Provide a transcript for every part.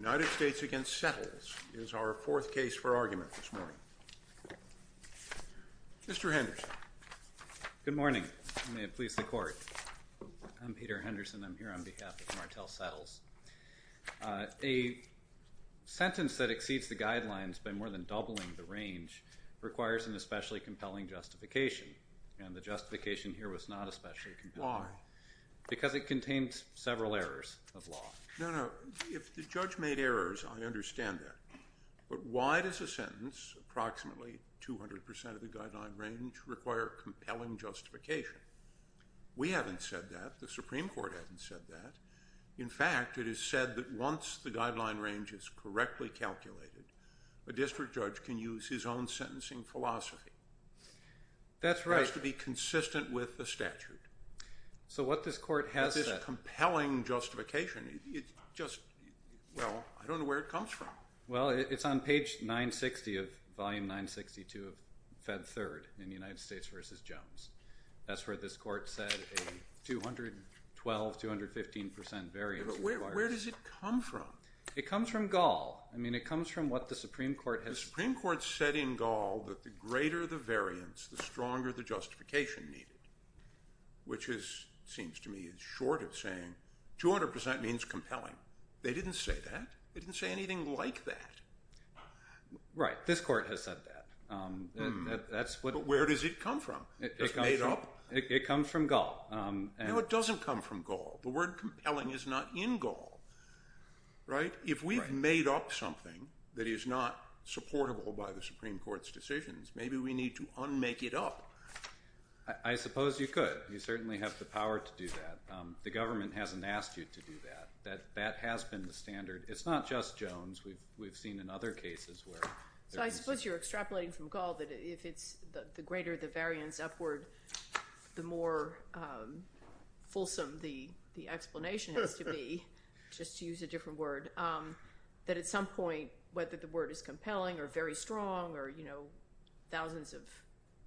United States v. Settles is our fourth case for argument this morning. Mr. Henderson. Good morning. May it please the Court. I'm Peter Henderson. I'm here on behalf of Martel Settles. A sentence that exceeds the guidelines by more than doubling the range requires an especially compelling justification, and the justification here was not especially compelling. Why? Because it contains several errors of law. No, no. If the judge made errors, I understand that, but why does a sentence, approximately 200 percent of the guideline range, require compelling justification? We haven't said that. The Supreme Court hasn't said that. In fact, it is said that once the guideline range is correctly calculated, a district judge can use his own sentencing philosophy. That's right. It has to be consistent with the statute. So what this Court has said— compelling justification. It's just—well, I don't know where it comes from. Well, it's on page 960 of—volume 962 of Fed Third in United States v. Jones. That's where this Court said a 212, 215 percent variance requires— But where does it come from? It comes from Gall. I mean, it comes from what the Supreme Court has— The Supreme Court said in Gall that the greater the variance, the stronger the justification needed, which seems to me is short of saying 200 percent means compelling. They didn't say that. They didn't say anything like that. Right. This Court has said that. That's what— But where does it come from? It comes from— It's made up? It comes from Gall. No, it doesn't come from Gall. The word compelling is not in Gall, right? If we've made up something that is not supportable by the Supreme Court's decisions, maybe we need to unmake it up. I suppose you could. You certainly have the power to do that. The government hasn't asked you to do that. That has been the standard. It's not just Jones. We've seen in other cases where— So I suppose you're extrapolating from Gall that if it's the greater the variance upward, the more fulsome the explanation has to be, just to use a different word,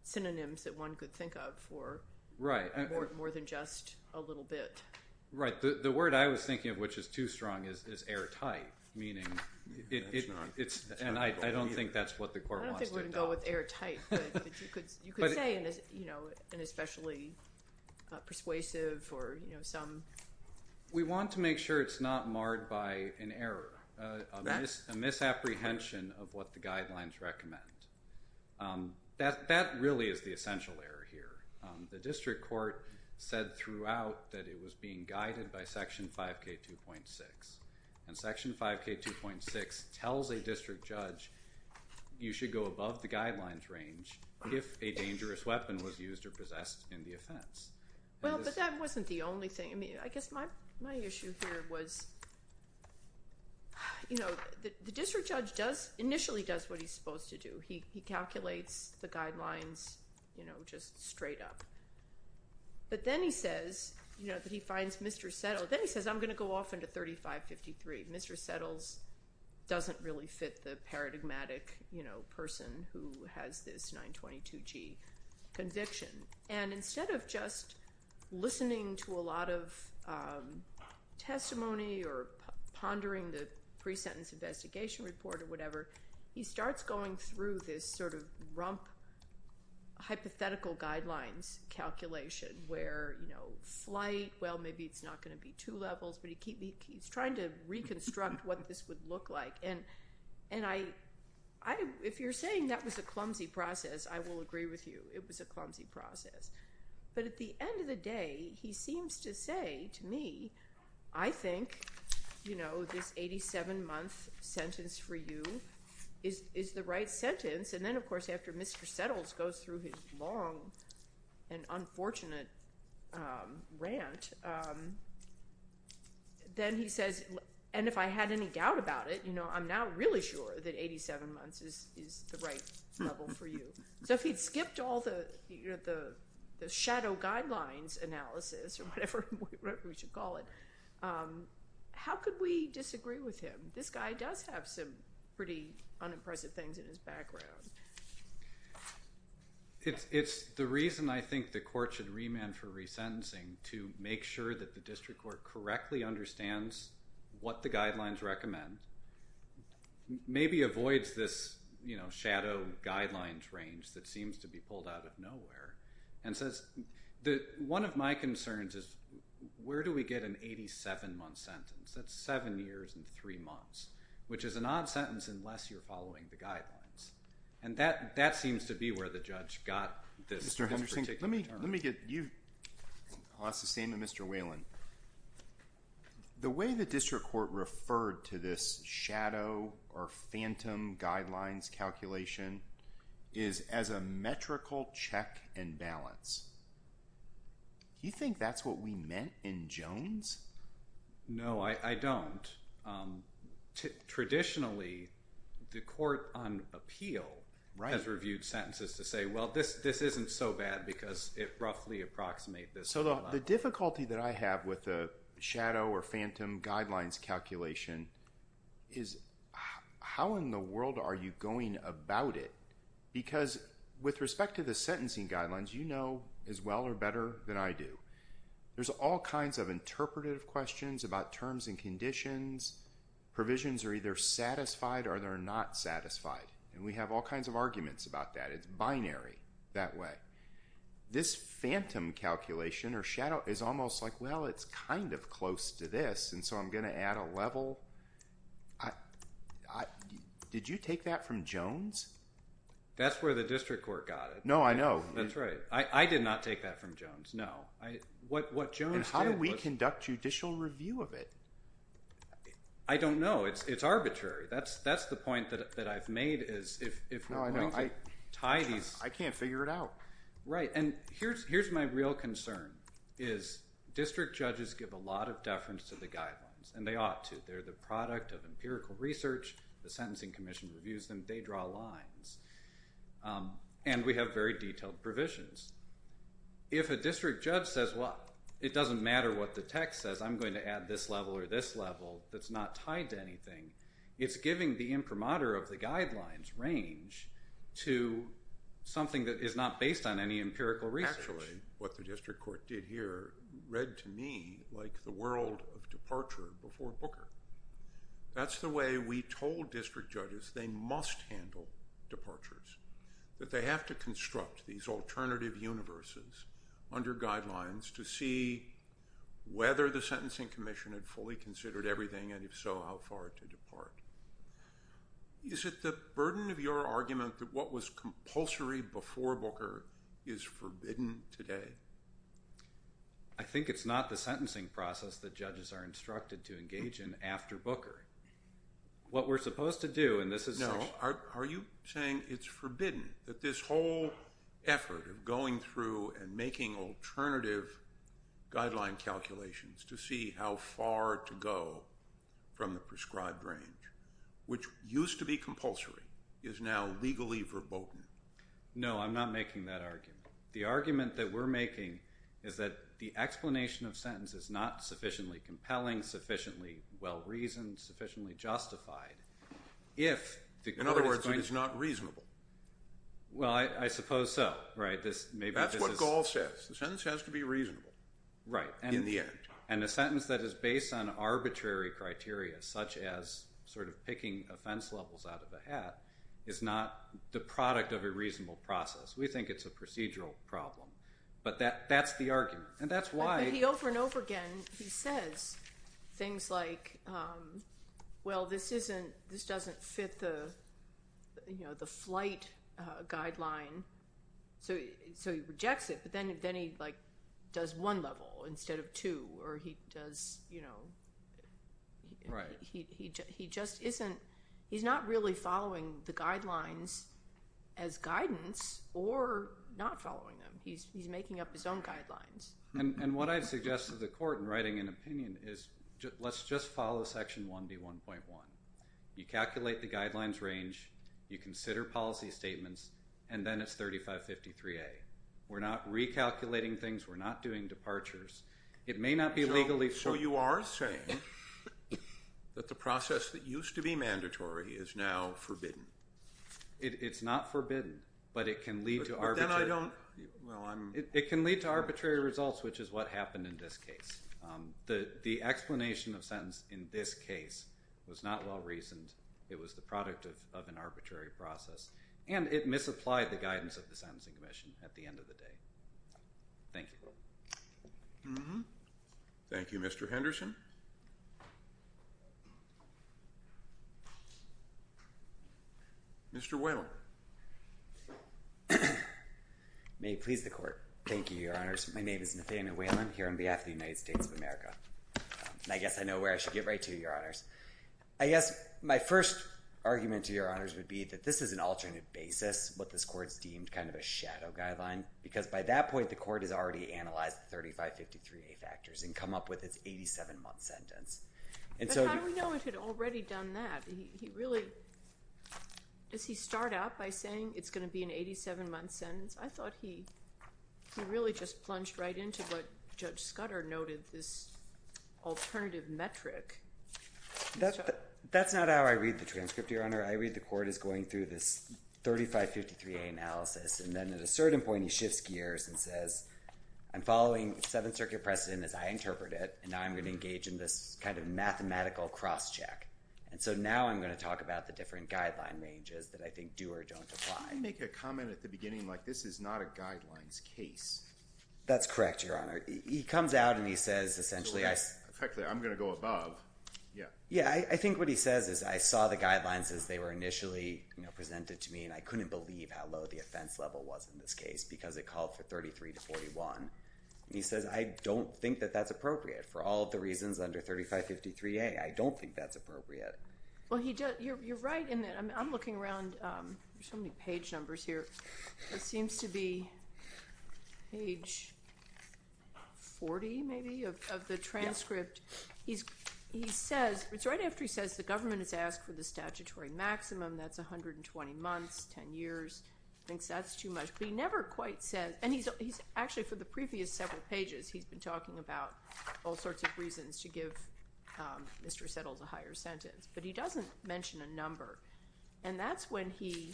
synonyms that one could think of for more than just a little bit. Right. The word I was thinking of, which is too strong, is airtight, meaning— That's not— And I don't think that's what the Court wants to adopt. I don't think we're going to go with airtight, but you could say an especially persuasive or some— We want to make sure it's not marred by an error, a misapprehension of what the guidelines recommend. That really is the essential error here. The district court said throughout that it was being guided by Section 5K2.6. And Section 5K2.6 tells a district judge you should go above the guidelines range if a dangerous weapon was used or possessed in the offense. Well, but that wasn't the only thing. I mean, I guess my issue here was, you know, the district judge initially does what he's supposed to do. He calculates the guidelines, you know, just straight up. But then he says, you know, that he finds Mr. Settle. Then he says, I'm going to go off into 3553. Mr. Settle doesn't really fit the paradigmatic, you know, person who has this 922G conviction. And instead of just listening to a lot of testimony or pondering the pre-sentence investigation report or whatever, he starts going through this sort of rump hypothetical guidelines calculation where, you know, flight, well, maybe it's not going to be two levels, but he keeps trying to reconstruct what this would look like. And if you're saying that was a clumsy process, I will agree with you. It was a clumsy process. But at the end of the day, he seems to say to me, I think, you know, this 87-month sentence for you is the right sentence. And then, of course, after Mr. Settle goes through his long and unfortunate rant, then he says, and if I had any doubt about it, you know, I'm now really sure that 87 months is the right level for you. So if he'd skipped all the shadow guidelines analysis or whatever we should call it, how could we disagree with him? This guy does have some pretty unimpressive things in his background. It's the reason I think the court should remand for resentencing to make sure that the district court correctly understands what the guidelines recommend, maybe avoids this, you know, shadow guidelines range that seems to be pulled out of nowhere, and says that one of my concerns is where do we get an 87-month sentence? That's seven years and three months, which is an odd sentence unless you're following the guidelines. And that seems to be where the judge got this particular term. Mr. Henderson, let me get you. I'll ask the same of Mr. Whelan. The way the district court referred to this shadow or phantom guidelines calculation is as a metrical check and balance. Do you think that's what we meant in Jones? No, I don't. Traditionally, the court on appeal has reviewed sentences to say, well, this isn't so bad because it roughly approximates this. So the difficulty that I have with the shadow or phantom guidelines calculation is how in the world are you going about it? Because with respect to the sentencing guidelines, you know as well or better than I do. There's all kinds of interpretive questions about terms and conditions. Provisions are either satisfied or they're not satisfied. And we have all kinds of arguments about that. It's binary that way. This phantom calculation or shadow is almost like, well, it's kind of close to this. And so I'm going to add a level. Did you take that from Jones? That's where the district court got it. No, I know. That's right. I did not take that from Jones. No. What Jones did was... And how do we conduct judicial review of it? I don't know. It's arbitrary. That's the point that I've made is if we're going to tie these... Right. And here's my real concern is district judges give a lot of deference to the guidelines. And they ought to. They're the product of empirical research. The Sentencing Commission reviews them. They draw lines. And we have very detailed provisions. If a district judge says, well, it doesn't matter what the text says. I'm going to add this level or this level that's not tied to anything. It's giving the imprimatur of the guidelines range to something that is not based on any empirical research. Actually, what the district court did here read to me like the world of departure before Booker. That's the way we told district judges they must handle departures. That they have to construct these alternative universes under guidelines to see whether the Sentencing Commission had fully considered everything, and if so, how far to depart. Is it the burden of your argument that what was compulsory before Booker is forbidden today? I think it's not the sentencing process that judges are instructed to engage in after Booker. What we're supposed to do, and this is... No, are you saying it's forbidden that this whole effort of going through and making alternative guideline calculations to see how far to go from the prescribed range, which used to be compulsory, is now legally verboten? No, I'm not making that argument. The argument that we're making is that the explanation of sentence is not sufficiently compelling, sufficiently well-reasoned, sufficiently justified. In other words, it is not reasonable. Well, I suppose so. That's what Gall says. The sentence has to be reasonable in the end. And a sentence that is based on arbitrary criteria, such as sort of picking offense levels out of a hat, is not the product of a reasonable process. We think it's a procedural problem. But that's the argument, and that's why... But he, over and over again, he says things like, well, this doesn't fit the flight guideline. So he rejects it, but then he, like, does one level instead of two, or he does, you know... Right. He just isn't... He's not really following the guidelines as guidance or not following them. He's making up his own guidelines. And what I'd suggest to the court in writing an opinion is, let's just follow Section 1B1.1. You calculate the guidelines range, you consider policy statements, and then it's 3553A. We're not recalculating things, we're not doing departures. It may not be legally... So you are saying that the process that used to be mandatory is now forbidden. It's not forbidden, but it can lead to arbitrary... But then I don't... It can lead to arbitrary results, which is what happened in this case. The explanation of sentence in this case was not well-reasoned. It was the product of an arbitrary process. And it misapplied the guidance of the Sentencing Commission at the end of the day. Thank you. Thank you, Mr. Henderson. Mr. Whalen. May it please the court. Thank you, Your Honors. My name is Nathaniel Whalen, here on behalf of the United States of America. I guess I know where I should get right to, Your Honors. I guess my first argument to Your Honors would be that this is an alternate basis, what this Court's deemed kind of a shadow guideline, because by that point the Court has already analyzed the 3553A factors and come up with its 87-month sentence. But how do we know it had already done that? He really... Does he start out by saying it's going to be an 87-month sentence? I thought he really just plunged right into what Judge Scudder noted, this alternative metric. That's not how I read the transcript, Your Honor. I read the Court is going through this 3553A analysis, and then at a certain point he shifts gears and says, I'm following Seventh Circuit precedent as I interpret it, and now I'm going to engage in this kind of mathematical cross-check. And so now I'm going to talk about the different guideline ranges that I think do or don't apply. He didn't make a comment at the beginning like this is not a guidelines case. That's correct, Your Honor. He comes out and he says essentially... Correctly, I'm going to go above. Yeah, I think what he says is I saw the guidelines as they were initially presented to me, and I couldn't believe how low the offense level was in this case because it called for 33 to 41. And he says I don't think that that's appropriate for all of the reasons under 3553A. I don't think that's appropriate. Well, you're right in that I'm looking around. There's so many page numbers here. It seems to be page 40 maybe of the transcript. It's right after he says the government has asked for the statutory maximum. That's 120 months, 10 years. He thinks that's too much, but he never quite says... And actually for the previous several pages, he's been talking about all sorts of reasons to give Mr. Settle's a higher sentence, but he doesn't mention a number. And that's when he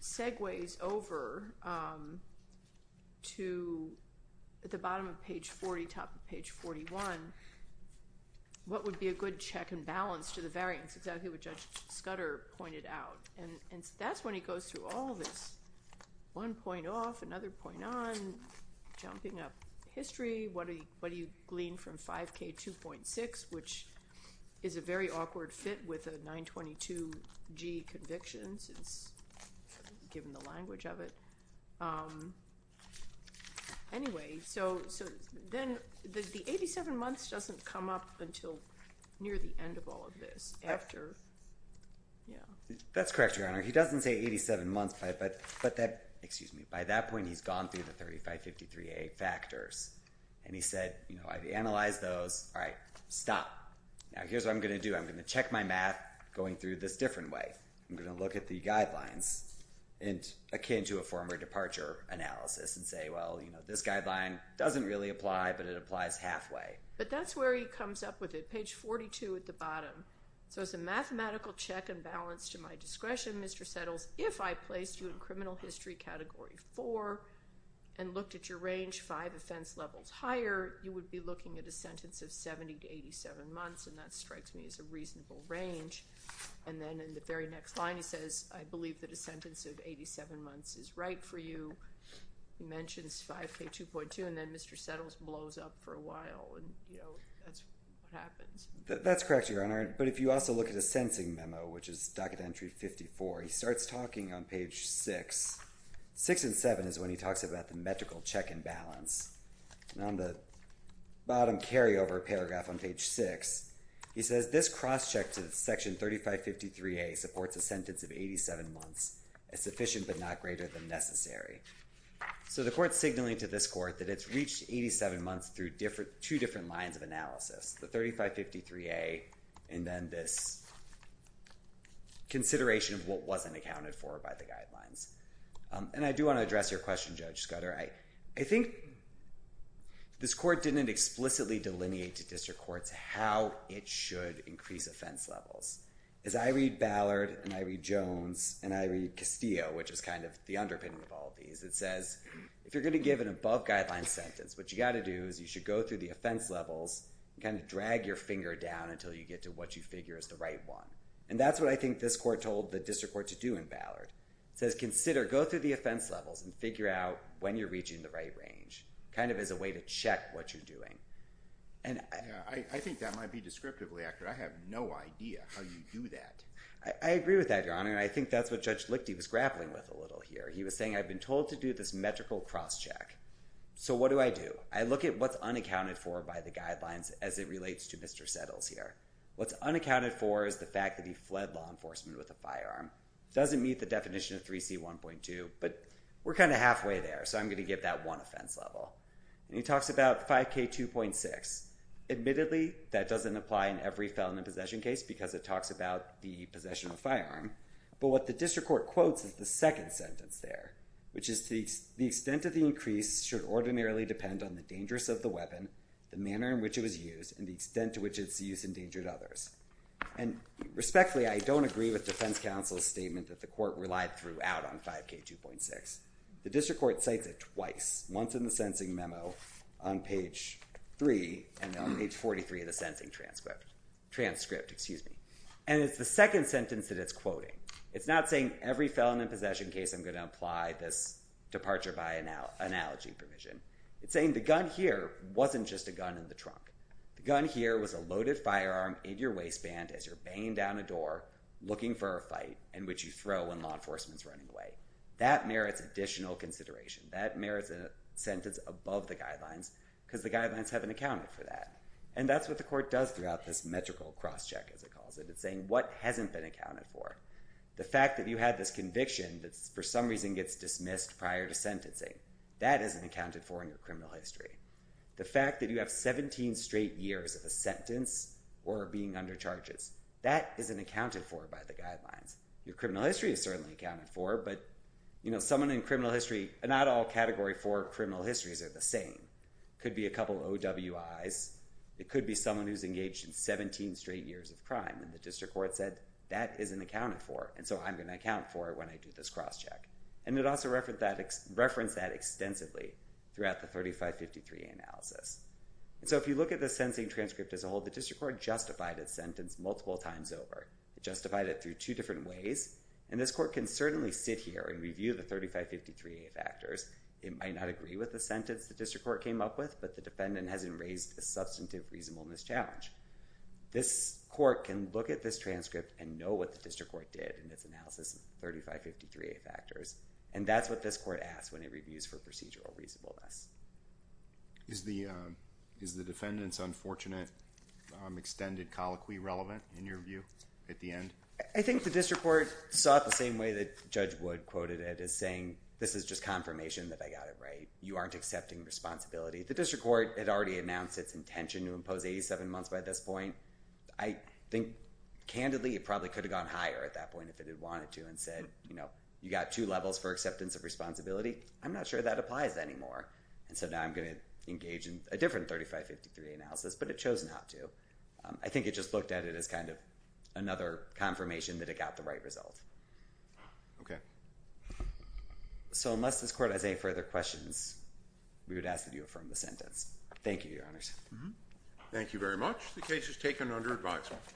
segues over to the bottom of page 40, top of page 41, what would be a good check and balance to the variance, exactly what Judge Scudder pointed out. And that's when he goes through all of this, one point off, another point on, jumping up history, what do you glean from 5K2.6, which is a very awkward fit with a 922G conviction since given the language of it. Anyway, so then the 87 months doesn't come up until near the end of all of this after... That's correct, Your Honor. He doesn't say 87 months, but that... Excuse me. By that point, he's gone through the 3553A factors, and he said, you know, I've analyzed those. All right, stop. Now, here's what I'm going to do. I'm going to check my math going through this different way. I'm going to look at the guidelines akin to a former departure analysis and say, well, you know, this guideline doesn't really apply, but it applies halfway. But that's where he comes up with it, page 42 at the bottom. So it's a mathematical check and balance to my discretion, Mr. Settles, if I placed you in criminal history category 4 and looked at your range five offense levels higher, you would be looking at a sentence of 70 to 87 months, and that strikes me as a reasonable range. And then in the very next line he says, I believe that a sentence of 87 months is right for you. He mentions 5K2.2, and then Mr. Settles blows up for a while, and, you know, that's what happens. That's correct, Your Honor. But if you also look at his sentencing memo, which is docket entry 54, he starts talking on page 6. 6 and 7 is when he talks about the metrical check and balance. And on the bottom carryover paragraph on page 6, he says this cross check to section 3553A supports a sentence of 87 months, a sufficient but not greater than necessary. So the court's signaling to this court that it's reached 87 months through two different lines of analysis, the 3553A, and then this consideration of what wasn't accounted for by the guidelines. And I do want to address your question, Judge Scudder. I think this court didn't explicitly delineate to district courts how it should increase offense levels. As I read Ballard and I read Jones and I read Castillo, which is kind of the underpinning of all of these, it says if you're going to give an above guideline sentence, what you've got to do is you should go through the offense levels and kind of drag your finger down until you get to what you figure is the right one. And that's what I think this court told the district court to do in Ballard. It says consider, go through the offense levels and figure out when you're reaching the right range, kind of as a way to check what you're doing. I think that might be descriptively accurate. I have no idea how you do that. I agree with that, Your Honor, and I think that's what Judge Lichty was grappling with a little here. He was saying I've been told to do this metrical cross-check. So what do I do? I look at what's unaccounted for by the guidelines as it relates to Mr. Settles here. What's unaccounted for is the fact that he fled law enforcement with a firearm. It doesn't meet the definition of 3C1.2, but we're kind of halfway there, so I'm going to give that one offense level. And he talks about 5K2.6. Admittedly, that doesn't apply in every felon in possession case because it talks about the possession of a firearm. But what the district court quotes is the second sentence there, which is the extent of the increase should ordinarily depend on the dangerous of the weapon, the manner in which it was used, and the extent to which its use endangered others. And respectfully, I don't agree with defense counsel's statement that the court relied throughout on 5K2.6. The district court cites it twice, once in the sentencing memo on page 3 and on page 43 of the sentencing transcript. And it's the second sentence that it's quoting. It's not saying every felon in possession case, I'm going to apply this departure by analogy provision. It's saying the gun here wasn't just a gun in the trunk. The gun here was a loaded firearm in your waistband as you're banging down a door looking for a fight in which you throw when law enforcement is running away. That merits additional consideration. That merits a sentence above the guidelines because the guidelines haven't accounted for that. And that's what the court does throughout this metrical crosscheck, as it calls it. It's saying what hasn't been accounted for. The fact that you had this conviction that, for some reason, gets dismissed prior to sentencing, that isn't accounted for in your criminal history. The fact that you have 17 straight years of a sentence or being under charges, that isn't accounted for by the guidelines. Your criminal history is certainly accounted for, but someone in criminal history, not all Category 4 criminal histories are the same. It could be a couple of OWIs. It could be someone who's engaged in 17 straight years of crime, and the district court said that isn't accounted for, and so I'm going to account for it when I do this crosscheck. And it also referenced that extensively throughout the 3553 analysis. So if you look at the sentencing transcript as a whole, the district court justified its sentence multiple times over. It justified it through two different ways, and this court can certainly sit here and review the 3553A factors. It might not agree with the sentence the district court came up with, but the defendant hasn't raised a substantive reasonableness challenge. This court can look at this transcript and know what the district court did in its analysis of the 3553A factors, and that's what this court asks when it reviews for procedural reasonableness. Is the defendant's unfortunate extended colloquy relevant in your view at the end? I think the district court saw it the same way that Judge Wood quoted it as saying this is just confirmation that I got it right. You aren't accepting responsibility. The district court had already announced its intention to impose 87 months by this point. I think, candidly, it probably could have gone higher at that point if it had wanted to and said, you know, you got two levels for acceptance of responsibility. I'm not sure that applies anymore, and so now I'm going to engage in a different 3553A analysis, but it chose not to. I think it just looked at it as kind of another confirmation that it got the right result. Okay. So unless this court has any further questions, we would ask that you affirm the sentence. Thank you, Your Honors. Thank you very much. The case is taken under advisement.